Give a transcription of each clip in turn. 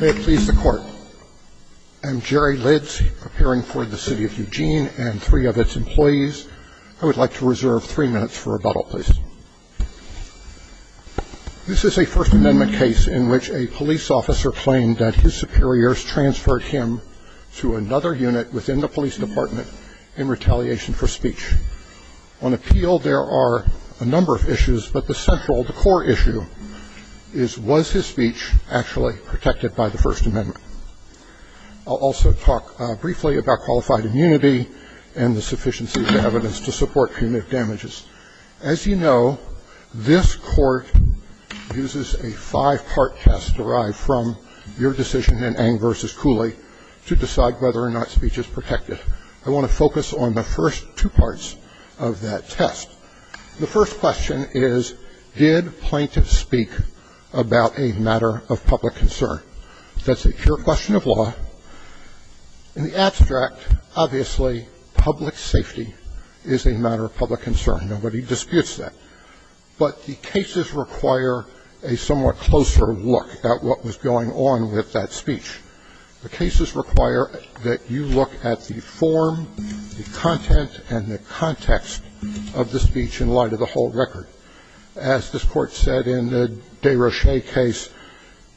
May it please the court. I'm Jerry Lids, appearing for the City of Eugene and three of its employees. I would like to reserve three minutes for rebuttal, please. This is a First Amendment case in which a police officer claimed that his superiors transferred him to another unit within the police department in retaliation for speech. On appeal, there are a number of issues, but the central, the core issue, is was his speech actually protected by the First Amendment? I'll also talk briefly about qualified immunity and the sufficiency of evidence to support punitive damages. As you know, this court uses a five-part test derived from your decision in Ng v. Cooley to decide whether or not speech is protected. I want to focus on the first two parts of that test. The first question is, did plaintiffs speak about a matter of public concern? That's a pure question of law. In the abstract, obviously, public safety is a matter of public concern. Nobody disputes that. But the cases require a somewhat closer look at what was going on with that speech. The cases require that you look at the form, the content, and the context of the speech in light of the whole record. As this court said in the Desrochers case,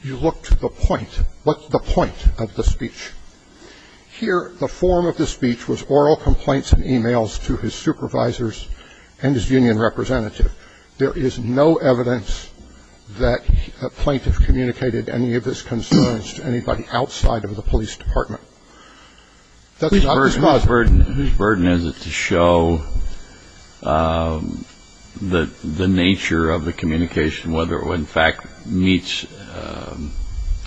you look to the point. What's the point of the speech? Here, the form of the speech was oral complaints and e-mails to his supervisors and his union representative. There is no evidence that a plaintiff communicated any of his concerns to anybody outside of the police department. So whose burden is it to show the nature of the communication, whether it, in fact, meets,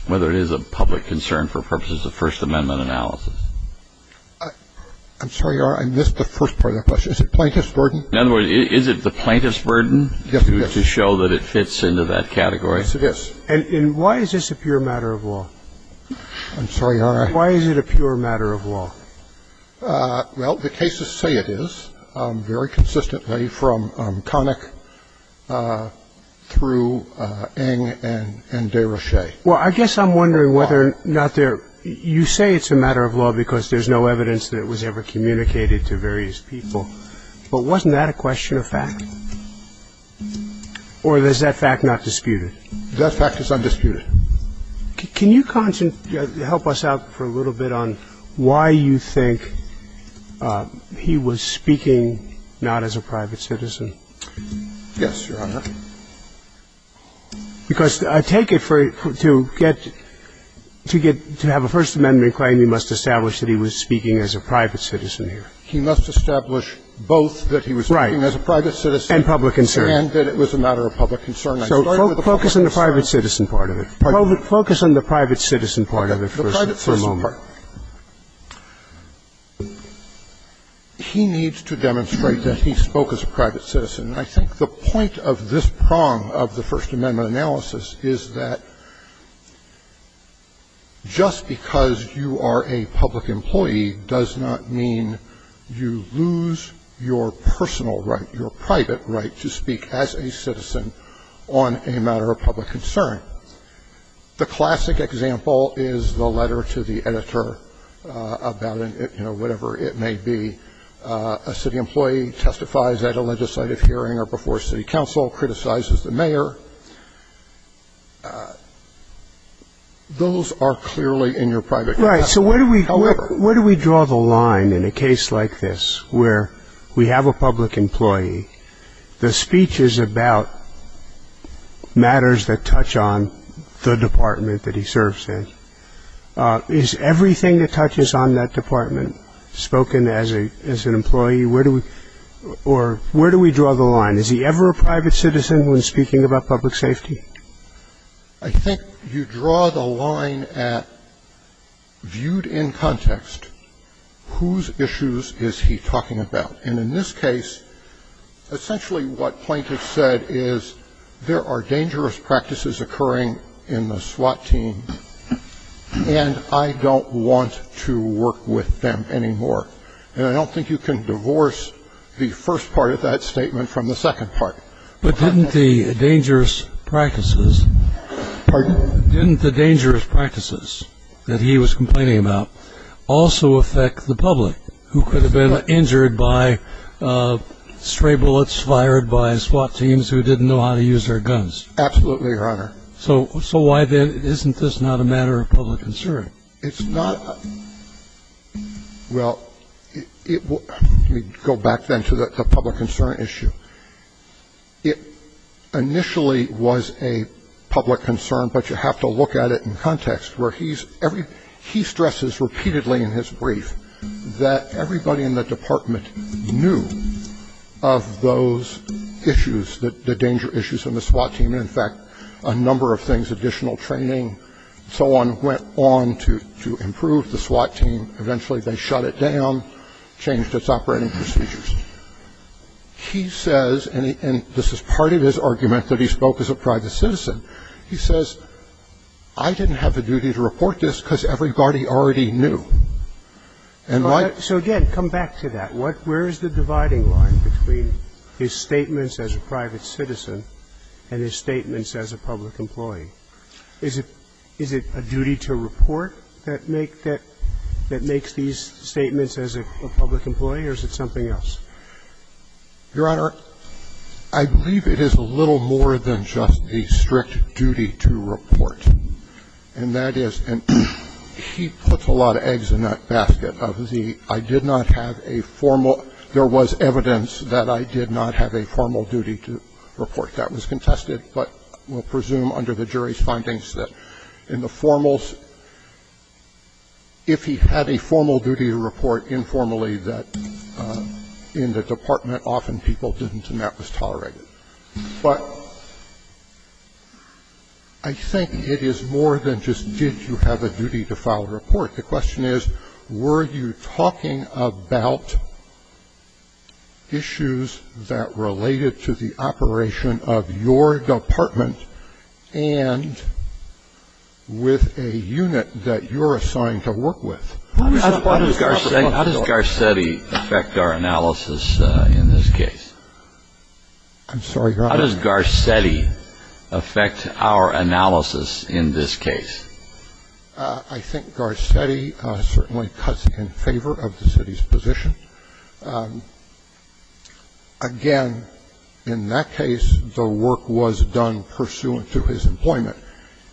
whether it is a public concern for purposes of First Amendment analysis? I'm sorry, Your Honor, I missed the first part of the question. Is it plaintiff's burden? In other words, is it the plaintiff's burden to show that it fits into that category? Yes, it is. And why is this a pure matter of law? I'm burden to show that it fits into that category? Yes, it is. And why is this a pure matter of law? Well, the cases say it is, very consistently, from Connick through Eng and Desrochers. Well, I guess I'm wondering whether or not there you say it's a matter of law because there's no evidence that it was ever a matter of public concern. I'm wondering why you think he was speaking not as a private citizen. Yes, Your Honor. Because I take it for it to get, to get, to have a First Amendment claim, you must establish that he was speaking as a private citizen here. He must establish both that he was speaking as a private citizen and that it was a matter of public concern. So focus on the private citizen part of it. Focus on the private citizen part of it for a moment. He needs to demonstrate that he spoke as a private citizen. And I think the point of this prong of the First Amendment analysis is that just because you are a public employee does not mean you lose your personal right, your private right to speak as a citizen on a matter of public concern. The classic example is the letter to the editor about, you know, whatever it may be. A city employee testifies at a legislative hearing or before city council, criticizes the mayor. Those are clearly in your private capacity. Right. So where do we draw the line in a case like this where we have a public employee, the speech is about matters that touch on the department that he serves in. Is everything that touches on that department spoken as an employee? Where do we, or where do we draw the line? Is he ever a private citizen when speaking about public safety? I think you draw the line at, viewed in context, whose issues is he talking about? And in this case, essentially what Plaintiff said is there are dangerous practices occurring in the SWAT team, and I don't want to work with them anymore. And I don't think you can divorce the first part of that statement from the second part. But didn't the dangerous practices that he was complaining about also affect the public, who could have been injured by stray bullets fired by SWAT teams who didn't know how to use their guns? Absolutely, Your Honor. So why then isn't this not a matter of public concern? It's not. Well, let me go back then to the public concern issue. It initially was a public concern, but you in his brief that everybody in the department knew of those issues, the danger issues in the SWAT team. In fact, a number of things, additional training and so on, went on to improve the SWAT team. Eventually they shut it down, changed its operating procedures. He says, and this is part of his argument that he spoke as a private citizen, he already knew. So again, come back to that. Where is the dividing line between his statements as a private citizen and his statements as a public employee? Is it a duty to report that makes these statements as a public employee, or is it something else? Your Honor, I believe it is a little more than just a strict duty to report, and that is, and he puts a lot of eggs in that basket of the, I did not have a formal there was evidence that I did not have a formal duty to report. That was contested, but we'll presume under the jury's findings that in the formals, if he had a formal duty to report informally, that in the department, often people didn't and that was tolerated. But I think it is more than just did you have a duty to file a report. The question is, were you talking about issues that related to the operation of your department and with a unit that you're assigned to work with? How does Garcetti affect our analysis in this case? I'm sorry, Your Honor. How does Garcetti affect our analysis in this case? I think Garcetti certainly cuts in favor of the city's position. Again, in that case, the work was done pursuant to his employment.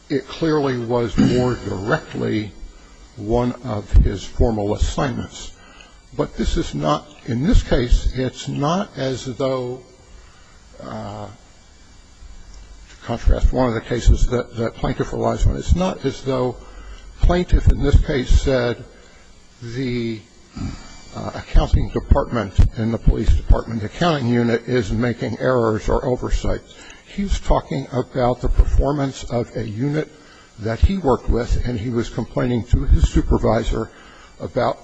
It clearly was more directly one of his formal assignments. But this is not, in this case, it's not as though, to contrast one of the cases that plaintiff relies on, it's not as though plaintiff in this case said the accounting department in the police department accounting unit is making errors or oversight. He's talking about the performance of a unit that he worked with and he was complaining to his supervisor about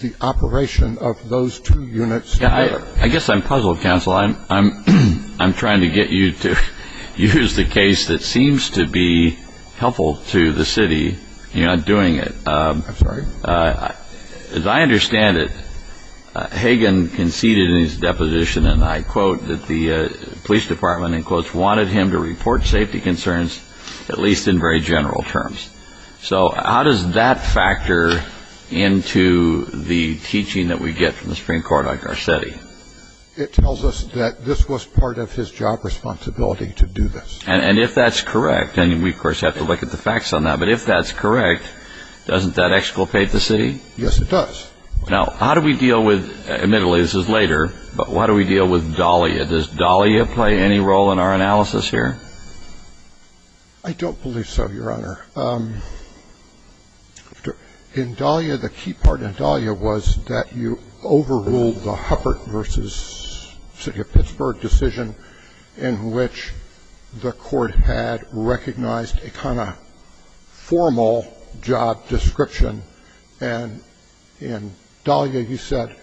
the operation of those two units together. I guess I'm puzzled, counsel. I'm trying to get you to use the case that seems to be helpful to the city. You're not doing it. I'm sorry? As I understand it, Hagan conceded in his deposition, and I quote, that the police department, in quotes, wanted him to report safety concerns, at least in very general terms. So how does that factor into the teaching that we get from the Supreme Court on Garcetti? It tells us that this was part of his job responsibility to do this. And if that's correct, and we, of course, have to look at the facts on that, but if that's correct, doesn't that exculpate the city? Yes, it does. Now, how do we deal with, admittedly, this is later, but how do we deal with Dahlia? Does Dahlia play any role in our analysis here? I don't believe so, Your Honor. In Dahlia, the key part in Dahlia was that you overruled the Huppert v. City of Pittsburgh decision in which the court had recognized a kind of formal job description, and in Dahlia, you said,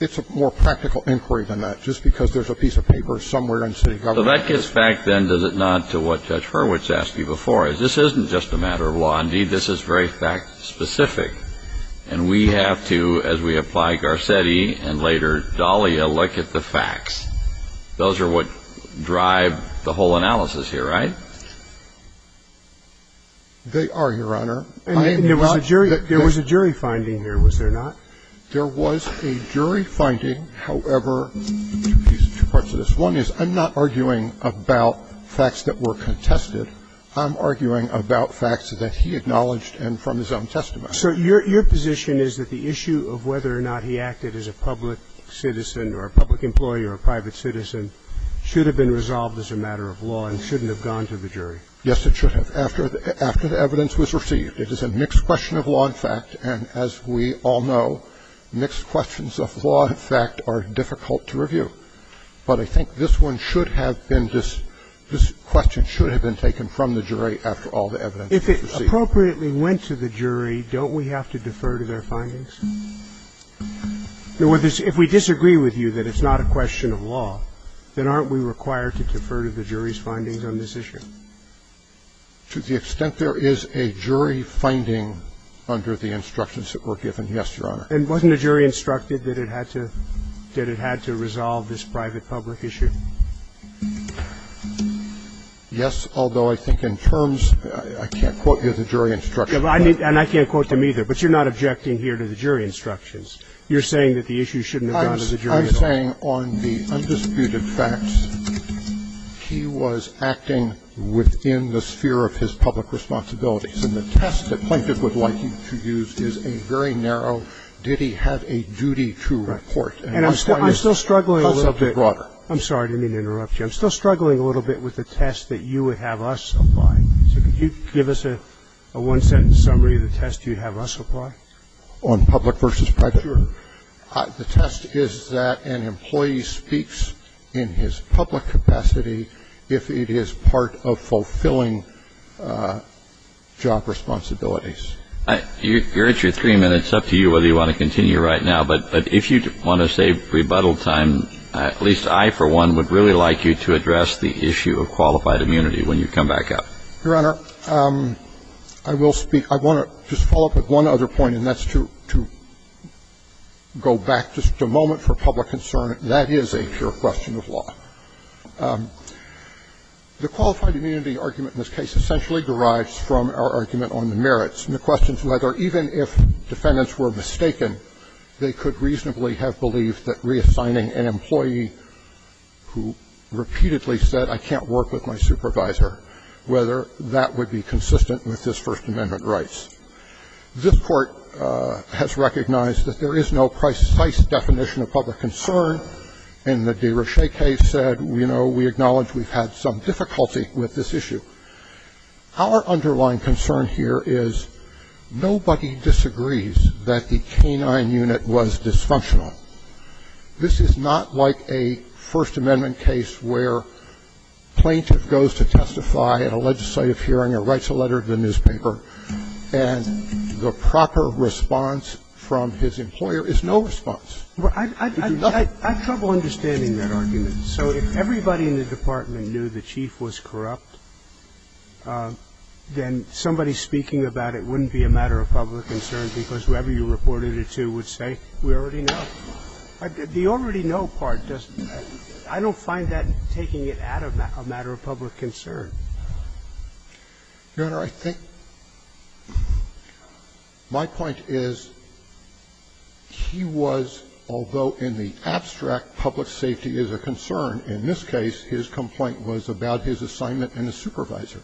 it's a more practical inquiry than that, just because there's a piece of paper somewhere in city government. Well, that gets back, then, does it not, to what Judge Hurwitz asked me before, is this isn't just a matter of law. Indeed, this is very fact-specific. And we have to, as we apply Garcetti and later Dahlia, look at the facts. Those are what drive the whole analysis here, right? They are, Your Honor. And there was a jury finding here, was there not? There was a jury finding, however, two parts of this. One is I'm not arguing about facts that were contested. I'm arguing about facts that he acknowledged and from his own testimony. So your position is that the issue of whether or not he acted as a public citizen or a public employee or a private citizen should have been resolved as a matter of law and shouldn't have gone to the jury? Yes, it should have, after the evidence was received. It is a mixed question of law and fact. And as we all know, mixed questions of law and fact are difficult to review. But I think this one should have been, this question should have been taken from the jury after all the evidence was received. If it appropriately went to the jury, don't we have to defer to their findings? If we disagree with you that it's not a question of law, then aren't we required to defer to the jury's findings on this issue? To the extent there is a jury finding under the instructions that were given, yes, Your Honor. And wasn't a jury instructed that it had to resolve this private-public issue? Yes, although I think in terms of the jury instructions. And I can't quote them either. But you're not objecting here to the jury instructions. You're saying that the issue shouldn't have gone to the jury at all. I'm saying on the undisputed facts, he was acting within the sphere of his public responsibilities. And the test that Plaintiff would like you to use is a very narrow, did he have a duty to report. And I'm still struggling a little bit. I'm sorry. I didn't mean to interrupt you. I'm still struggling a little bit with the test that you would have us apply. So could you give us a one-sentence summary of the test you'd have us apply? On public versus private? Sure. The test is that an employee speaks in his public capacity if it is part of fulfilling job responsibilities. You're at your three minutes. It's up to you whether you want to continue right now. But if you want to save rebuttal time, at least I, for one, would really like you to address the issue of qualified immunity when you come back up. Your Honor, I will speak. I want to just follow up with one other point, and that's to go back just a moment for public concern. That is a pure question of law. The qualified immunity argument in this case essentially derives from our argument on the merits. And the question is whether even if defendants were mistaken, they could reasonably have believed that reassigning an employee who repeatedly said, I can't work with my supervisor, whether that would be consistent with his First Amendment rights. This Court has recognized that there is no precise definition of public concern. In the DeRochet case said, you know, we acknowledge we've had some difficulty with this issue. Our underlying concern here is nobody disagrees that the canine unit was dysfunctional. This is not like a First Amendment case where plaintiff goes to testify at a legislative hearing or writes a letter to the newspaper, and the proper response from his employer is no response. He can do nothing. I have trouble understanding that argument. So if everybody in the department knew the chief was corrupt, then somebody speaking about it wouldn't be a matter of public concern, because whoever you reported it to would say, we already know. The already know part doesn't – I don't find that taking it out of a matter of public concern. Your Honor, I think my point is he was, although in the abstract public safety is a concern, in this case his complaint was about his assignment and his supervisor.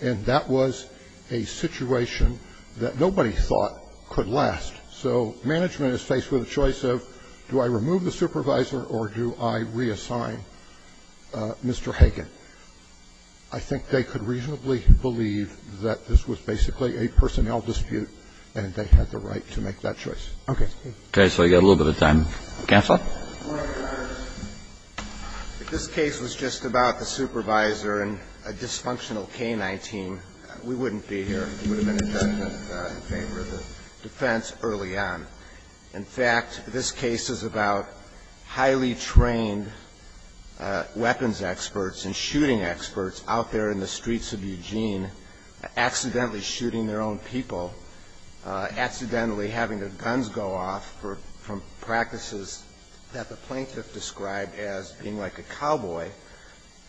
And that was a situation that nobody thought could last. So management is faced with a choice of do I remove the supervisor or do I reassign Mr. Hagan. I think they could reasonably believe that this was basically a personnel dispute, Okay. So you've got a little bit of time. Counsel. If this case was just about the supervisor and a dysfunctional K-19, we wouldn't be here. It would have been a judgment in favor of the defense early on. In fact, this case is about highly trained weapons experts and shooting experts out there in the streets of Eugene accidentally shooting their own people, accidentally having their guns go off from practices that the plaintiff described as being like a cowboy.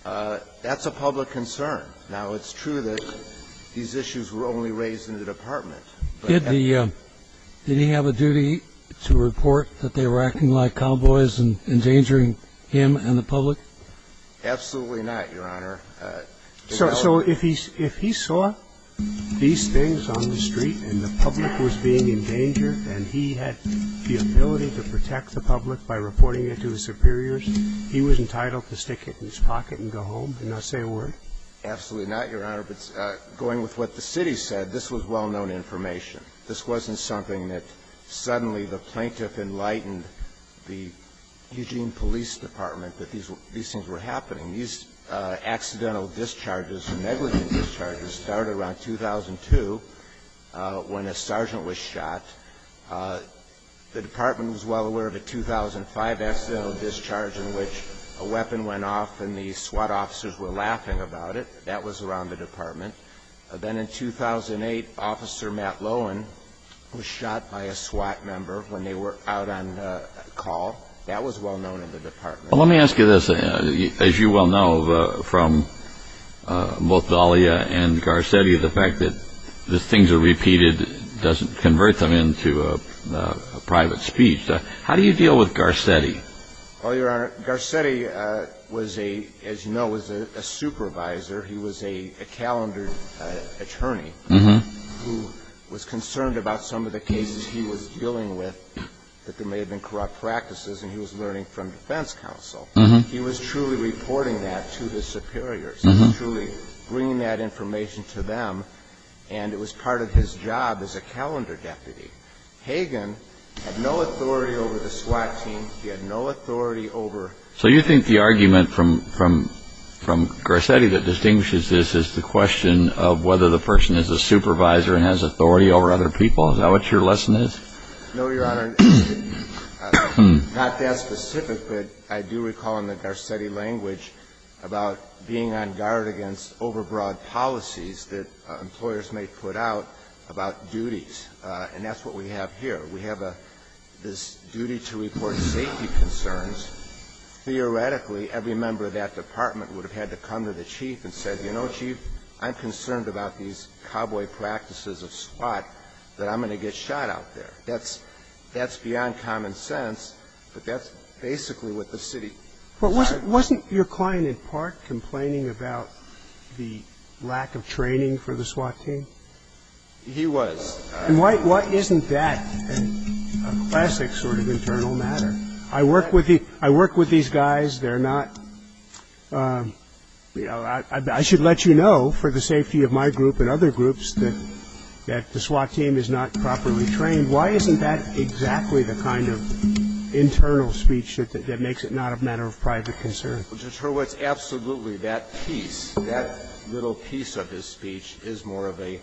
That's a public concern. Now, it's true that these issues were only raised in the department. Did he have a duty to report that they were acting like cowboys and endangering him and the public? Absolutely not, Your Honor. So if he saw these things on the street and the public was being endangered and he had the ability to protect the public by reporting it to his superiors, he was entitled to stick it in his pocket and go home and not say a word? Absolutely not, Your Honor. But going with what the city said, this was well-known information. This wasn't something that suddenly the plaintiff enlightened the Eugene Police Department that these things were happening. These accidental discharges and negligent discharges started around 2002 when a sergeant was shot. The department was well aware of a 2005 accidental discharge in which a weapon went off and the SWAT officers were laughing about it. That was around the department. Then in 2008, Officer Matt Lowen was shot by a SWAT member when they were out on call. That was well-known in the department. Well, let me ask you this. As you well know from both Dahlia and Garcetti, the fact that these things are repeated doesn't convert them into a private speech. How do you deal with Garcetti? Well, Your Honor, Garcetti was a, as you know, was a supervisor. He was a calendar attorney who was concerned about some of the cases he was dealing with, that there may have been corrupt practices, and he was learning from defense counsel. He was truly reporting that to the superiors, truly bringing that information to them, and it was part of his job as a calendar deputy. Hagan had no authority over the SWAT team. He had no authority over the SWAT team. So you think the argument from Garcetti that distinguishes this is the question of whether the person is a supervisor and has authority over other people. Is that what your lesson is? No, Your Honor. Not that specific, but I do recall in the Garcetti language about being on guard against overbroad policies that employers may put out about duties, and that's what we have here. We have this duty to report safety concerns. Theoretically, every member of that department would have had to come to the chief and said, you know, chief, I'm concerned about these cowboy practices of SWAT, that I'm going to get shot out there. That's beyond common sense, but that's basically what the city decided. But wasn't your client in part complaining about the lack of training for the SWAT team? He was. And why isn't that a classic sort of internal matter? I work with these guys. They're not, you know, I should let you know for the safety of my group and other groups that the SWAT team is not properly trained. Why isn't that exactly the kind of internal speech that makes it not a matter of private concern? Well, Judge Hurwitz, absolutely that piece, that little piece of his speech is more of a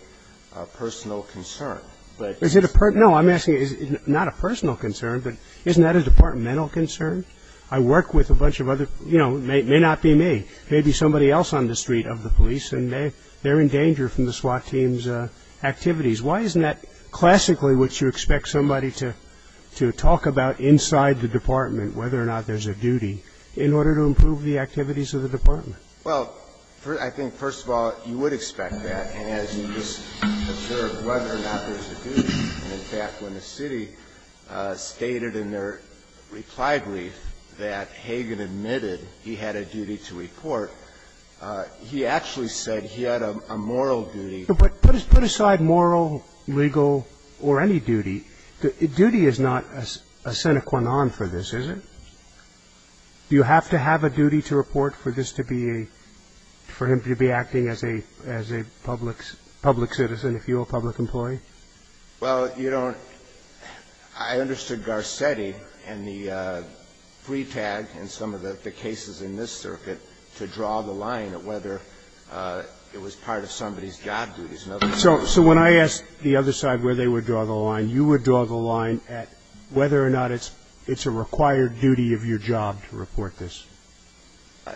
personal concern. Is it a personal? No, I'm asking is it not a personal concern, but isn't that a departmental concern? I work with a bunch of other, you know, it may not be me. Maybe somebody else on the street of the police, and they're in danger from the SWAT team's activities. Why isn't that classically what you expect somebody to talk about inside the department, whether or not there's a duty, in order to improve the activities of the department? Well, I think, first of all, you would expect that, as you just observed, whether or not there's a duty. In fact, when the city stated in their reply brief that Hagan admitted he had a duty to report, he actually said he had a moral duty. But put aside moral, legal, or any duty. Duty is not a sine qua non for this, is it? Do you have to have a duty to report for this to be a – for him to be acting as a public citizen, if you're a public employee? Well, you don't – I understood Garcetti and the free tag in some of the cases in this circuit to draw the line at whether it was part of somebody's job duties. So when I asked the other side where they would draw the line, you would draw the line at whether or not it's a required duty of your job to report this?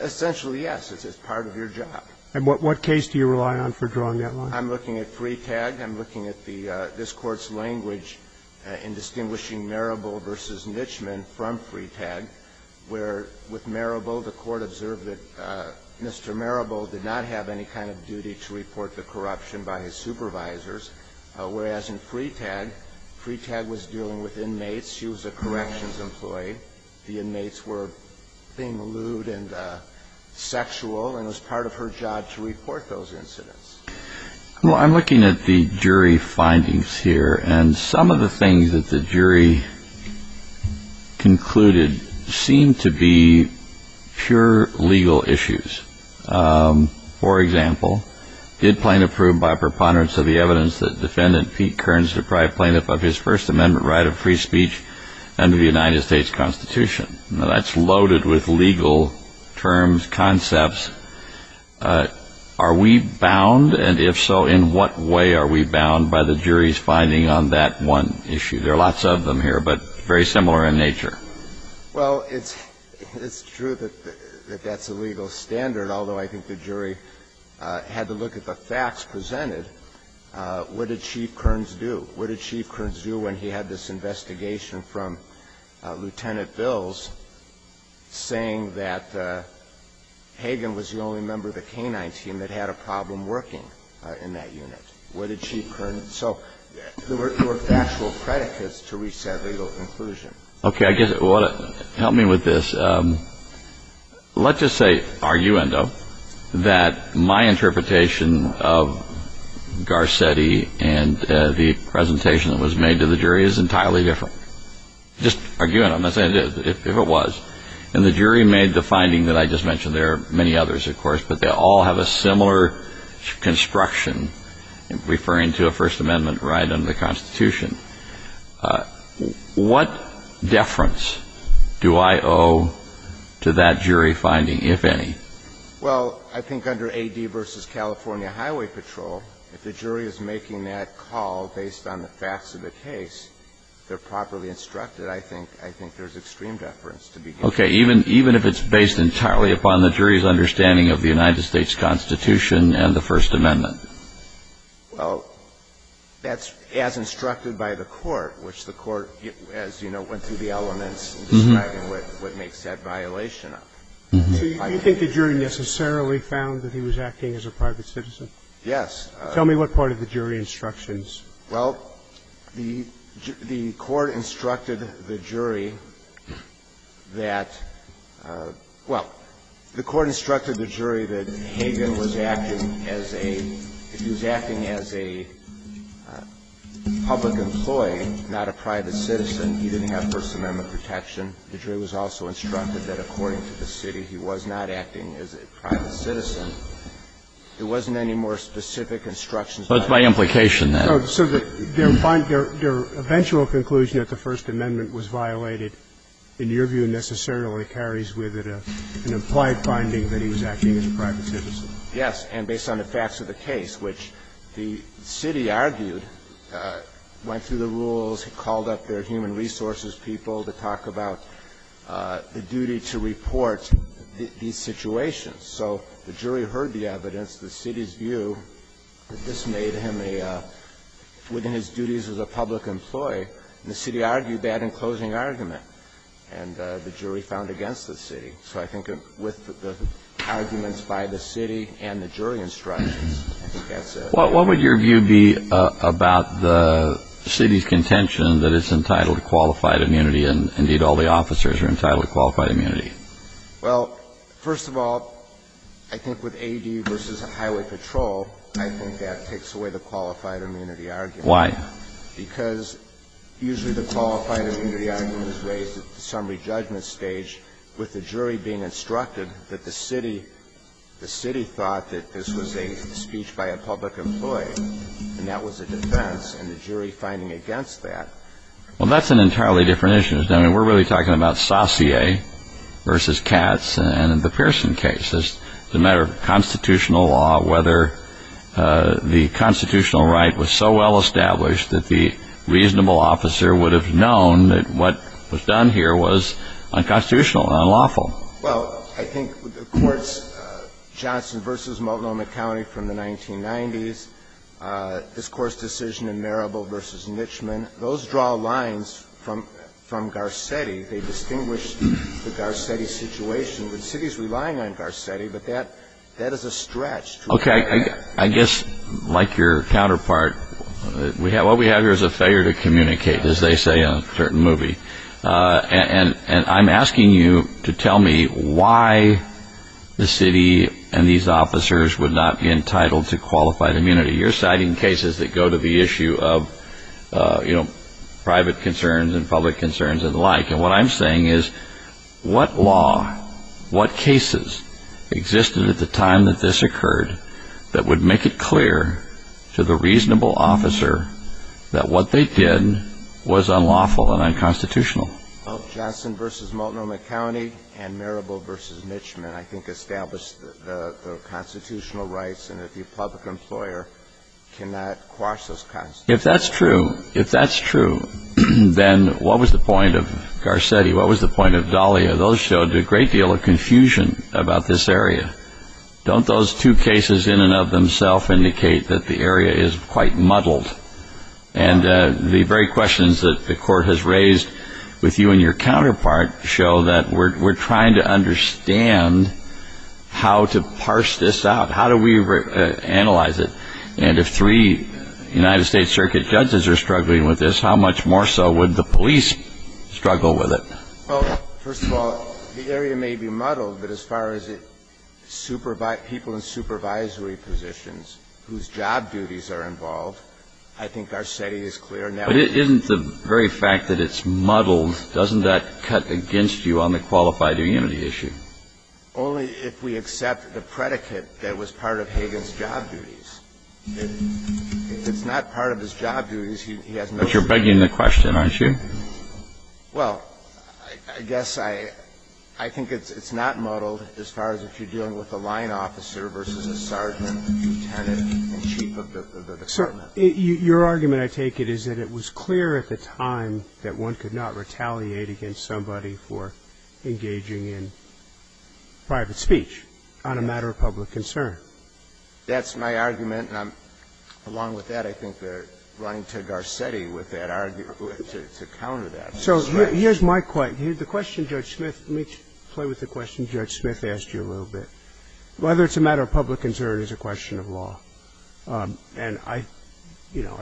Essentially, yes. It's part of your job. And what case do you rely on for drawing that line? I'm looking at free tag. I'm looking at the – this Court's language in distinguishing Marable v. Nitchman from free tag, where with Marable, the Court observed that Mr. Marable did not have any kind of duty to report the corruption by his supervisors, whereas in free tag, free tag was dealing with inmates. She was a corrections employee. The inmates were being lewd and sexual, and it was part of her job to report those incidents. Well, I'm looking at the jury findings here, and some of the things that the jury concluded seem to be pure legal issues. For example, did plaintiff prove by preponderance of the evidence that defendant Pete Kearns deprived plaintiff of his First Amendment right of free speech under the United States Constitution? Are we bound? And if so, in what way are we bound by the jury's finding on that one issue? There are lots of them here, but very similar in nature. Well, it's true that that's a legal standard, although I think the jury had to look at the facts presented. What did Chief Kearns do? What did Chief Kearns do when he had this investigation from Lieutenant Bills saying that Hagan was the only member of the canine team that had a problem working in that unit? What did Chief Kearns do? So there were actual predicates to reach that legal conclusion. Okay. Help me with this. Let's just say, arguendo, that my interpretation of Garcetti and the presentation that was made to the jury is entirely different. Just arguendo. I'm not saying it is. If it was. And the jury made the finding that I just mentioned. There are many others, of course, but they all have a similar construction, referring to a First Amendment right under the Constitution. What deference do I owe to that jury finding, if any? Well, I think under AD v. California Highway Patrol, if the jury is making that call based on the facts of the case, they're properly instructed. I think there's extreme deference to be given. Okay. Even if it's based entirely upon the jury's understanding of the United States Constitution and the First Amendment? Well, that's as instructed by the court, which the court, as you know, went through the elements describing what makes that violation up. So you think the jury necessarily found that he was acting as a private citizen? Yes. Tell me what part of the jury instructions. Well, the court instructed the jury that, well, the court instructed the jury that Hagan was acting as a public employee, not a private citizen. He didn't have First Amendment protection. The jury was also instructed that, according to the city, he was not acting as a private citizen. There wasn't any more specific instructions on that. So it's by implication, then. So their eventual conclusion that the First Amendment was violated, in your view, necessarily carries with it an implied finding that he was acting as a private citizen? Yes. And based on the facts of the case, which the city argued, went through the rules, called up their human resources people to talk about the duty to report these situations. So the jury heard the evidence. The city's view that this made him a – within his duties as a public employee. And the city argued that in closing argument. And the jury found against the city. So I think with the arguments by the city and the jury instructions, I think that's it. What would your view be about the city's contention that it's entitled to qualified immunity and, indeed, all the officers are entitled to qualified immunity? Well, first of all, I think with A.D. versus Highway Patrol, I think that takes away the qualified immunity argument. Why? Because usually the qualified immunity argument is raised at the summary judgment stage with the jury being instructed that the city – the city thought that this was a speech by a public employee. And that was a defense. And the jury finding against that. Well, that's an entirely different issue. I mean, we're really talking about Saussure versus Katz and the Pearson case. It's a matter of constitutional law, whether the constitutional right was so well established that the reasonable officer would have known that what was done here was unconstitutional, unlawful. Well, I think the courts Johnson versus Multnomah County from the 1990s, this court's decision in Marable versus Mitchman, those draw lines from Garcetti. They distinguish the Garcetti situation. The city's relying on Garcetti, but that is a stretch. Okay. I guess, like your counterpart, what we have here is a failure to communicate, as they say in a certain movie. And I'm asking you to tell me why the city and these officers would not be entitled to qualified immunity. You're citing cases that go to the issue of, you know, private concerns and public concerns and the like. And what I'm saying is, what law, what cases existed at the time that this occurred that would make it clear to the reasonable officer that what they did was unlawful and unconstitutional? Well, Johnson versus Multnomah County and Marable versus Mitchman, I think, the constitutional rights and that the public employer cannot quash those constitutional rights. If that's true, if that's true, then what was the point of Garcetti? What was the point of Dahlia? Those showed a great deal of confusion about this area. Don't those two cases in and of themselves indicate that the area is quite muddled? And the very questions that the court has raised with you and your counterpart show that we're trying to understand how to parse this out. How do we analyze it? And if three United States Circuit judges are struggling with this, how much more so would the police struggle with it? Well, first of all, the area may be muddled, but as far as people in supervisory positions whose job duties are involved, I think Garcetti is clear. But isn't the very fact that it's muddled, doesn't that cut against you on the qualified immunity issue? Only if we accept the predicate that was part of Hagan's job duties. If it's not part of his job duties, he has no reason to. But you're begging the question, aren't you? Well, I guess I think it's not muddled as far as if you're dealing with a line officer versus a sergeant, a lieutenant, and chief of the department. Your argument, I take it, is that it was clear at the time that one could not retaliate against somebody for engaging in private speech on a matter of public concern. That's my argument. And along with that, I think they're running to Garcetti with that argument, to counter that. So here's my question. The question Judge Smith, let me play with the question Judge Smith asked you a little bit. Whether it's a matter of public concern is a question of law. And I, you know,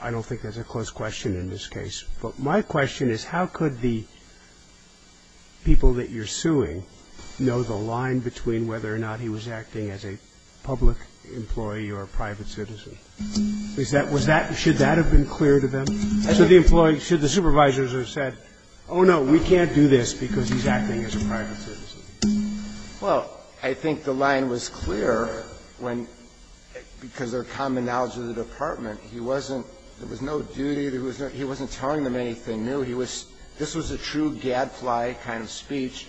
I don't think that's a close question in this case. But my question is, how could the people that you're suing know the line between whether or not he was acting as a public employee or a private citizen? Was that – should that have been clear to them? Should the employee – should the supervisors have said, oh, no, we can't do this because he's acting as a private citizen? Well, I think the line was clear when – because their common knowledge of the department. He wasn't – there was no duty. He wasn't telling them anything new. He was – this was a true gadfly kind of speech.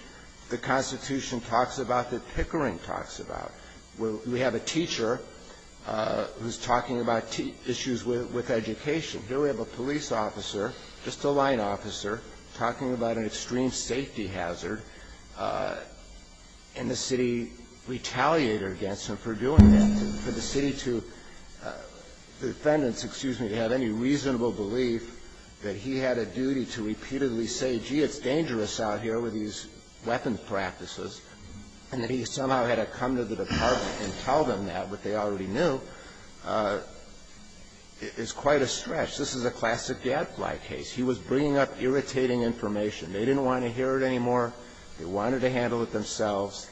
The Constitution talks about that Pickering talks about. We have a teacher who's talking about issues with education. Here we have a police officer, just a line officer, talking about an extreme safety hazard, and the city retaliated against him for doing that, for the city to – the defendants, excuse me, to have any reasonable belief that he had a duty to repeatedly say, gee, it's dangerous out here with these weapons practices, and that he somehow had to come to the department and tell them that, but they already knew, is quite a stretch. This is a classic gadfly case. He was bringing up irritating information. They didn't want to hear it anymore. They wanted to handle it themselves.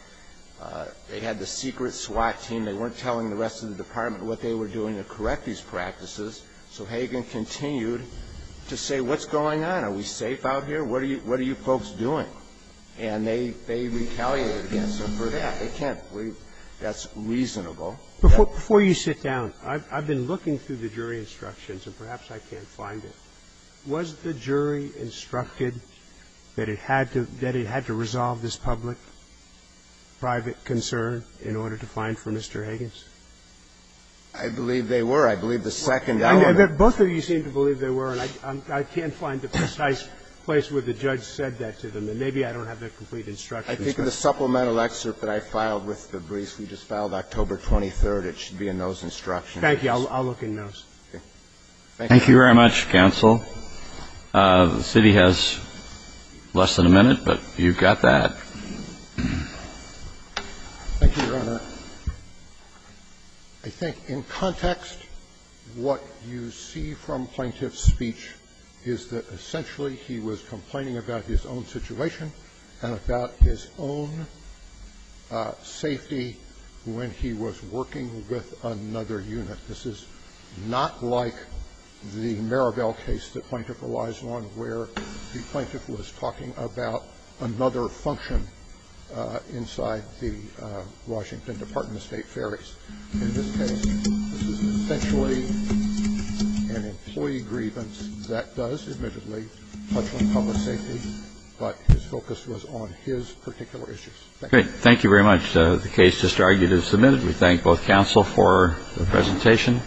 They had the secret SWAT team. They weren't telling the rest of the department what they were doing to correct these practices, so Hagen continued to say, what's going on? Are we safe out here? What are you folks doing? And they retaliated against him for that. They can't believe that's reasonable. Before you sit down, I've been looking through the jury instructions, and perhaps I can't find it. Was the jury instructed that it had to – that it had to resolve this public, private concern in order to find for Mr. Hagen's? I believe they were. I believe the second element. Both of you seem to believe they were, and I can't find the precise place where the judge said that to them, and maybe I don't have the complete instructions. I think in the supplemental excerpt that I filed with the briefs we just filed, October 23rd, it should be in those instructions. Thank you. I'll look in those. Thank you. Thank you very much, counsel. The city has less than a minute, but you've got that. Thank you, Your Honor. I think in context, what you see from Plaintiff's speech is that essentially he was complaining about his own situation and about his own safety when he was working with another unit. This is not like the Maribel case that Plaintiff relies on where the plaintiff was talking about another function inside the Washington Department of State Ferries. In this case, this is essentially an employee grievance that does, admittedly, touch on public safety, but his focus was on his particular issues. Thank you. Thank you very much. The case just argued is submitted. We thank both counsel for the presentation.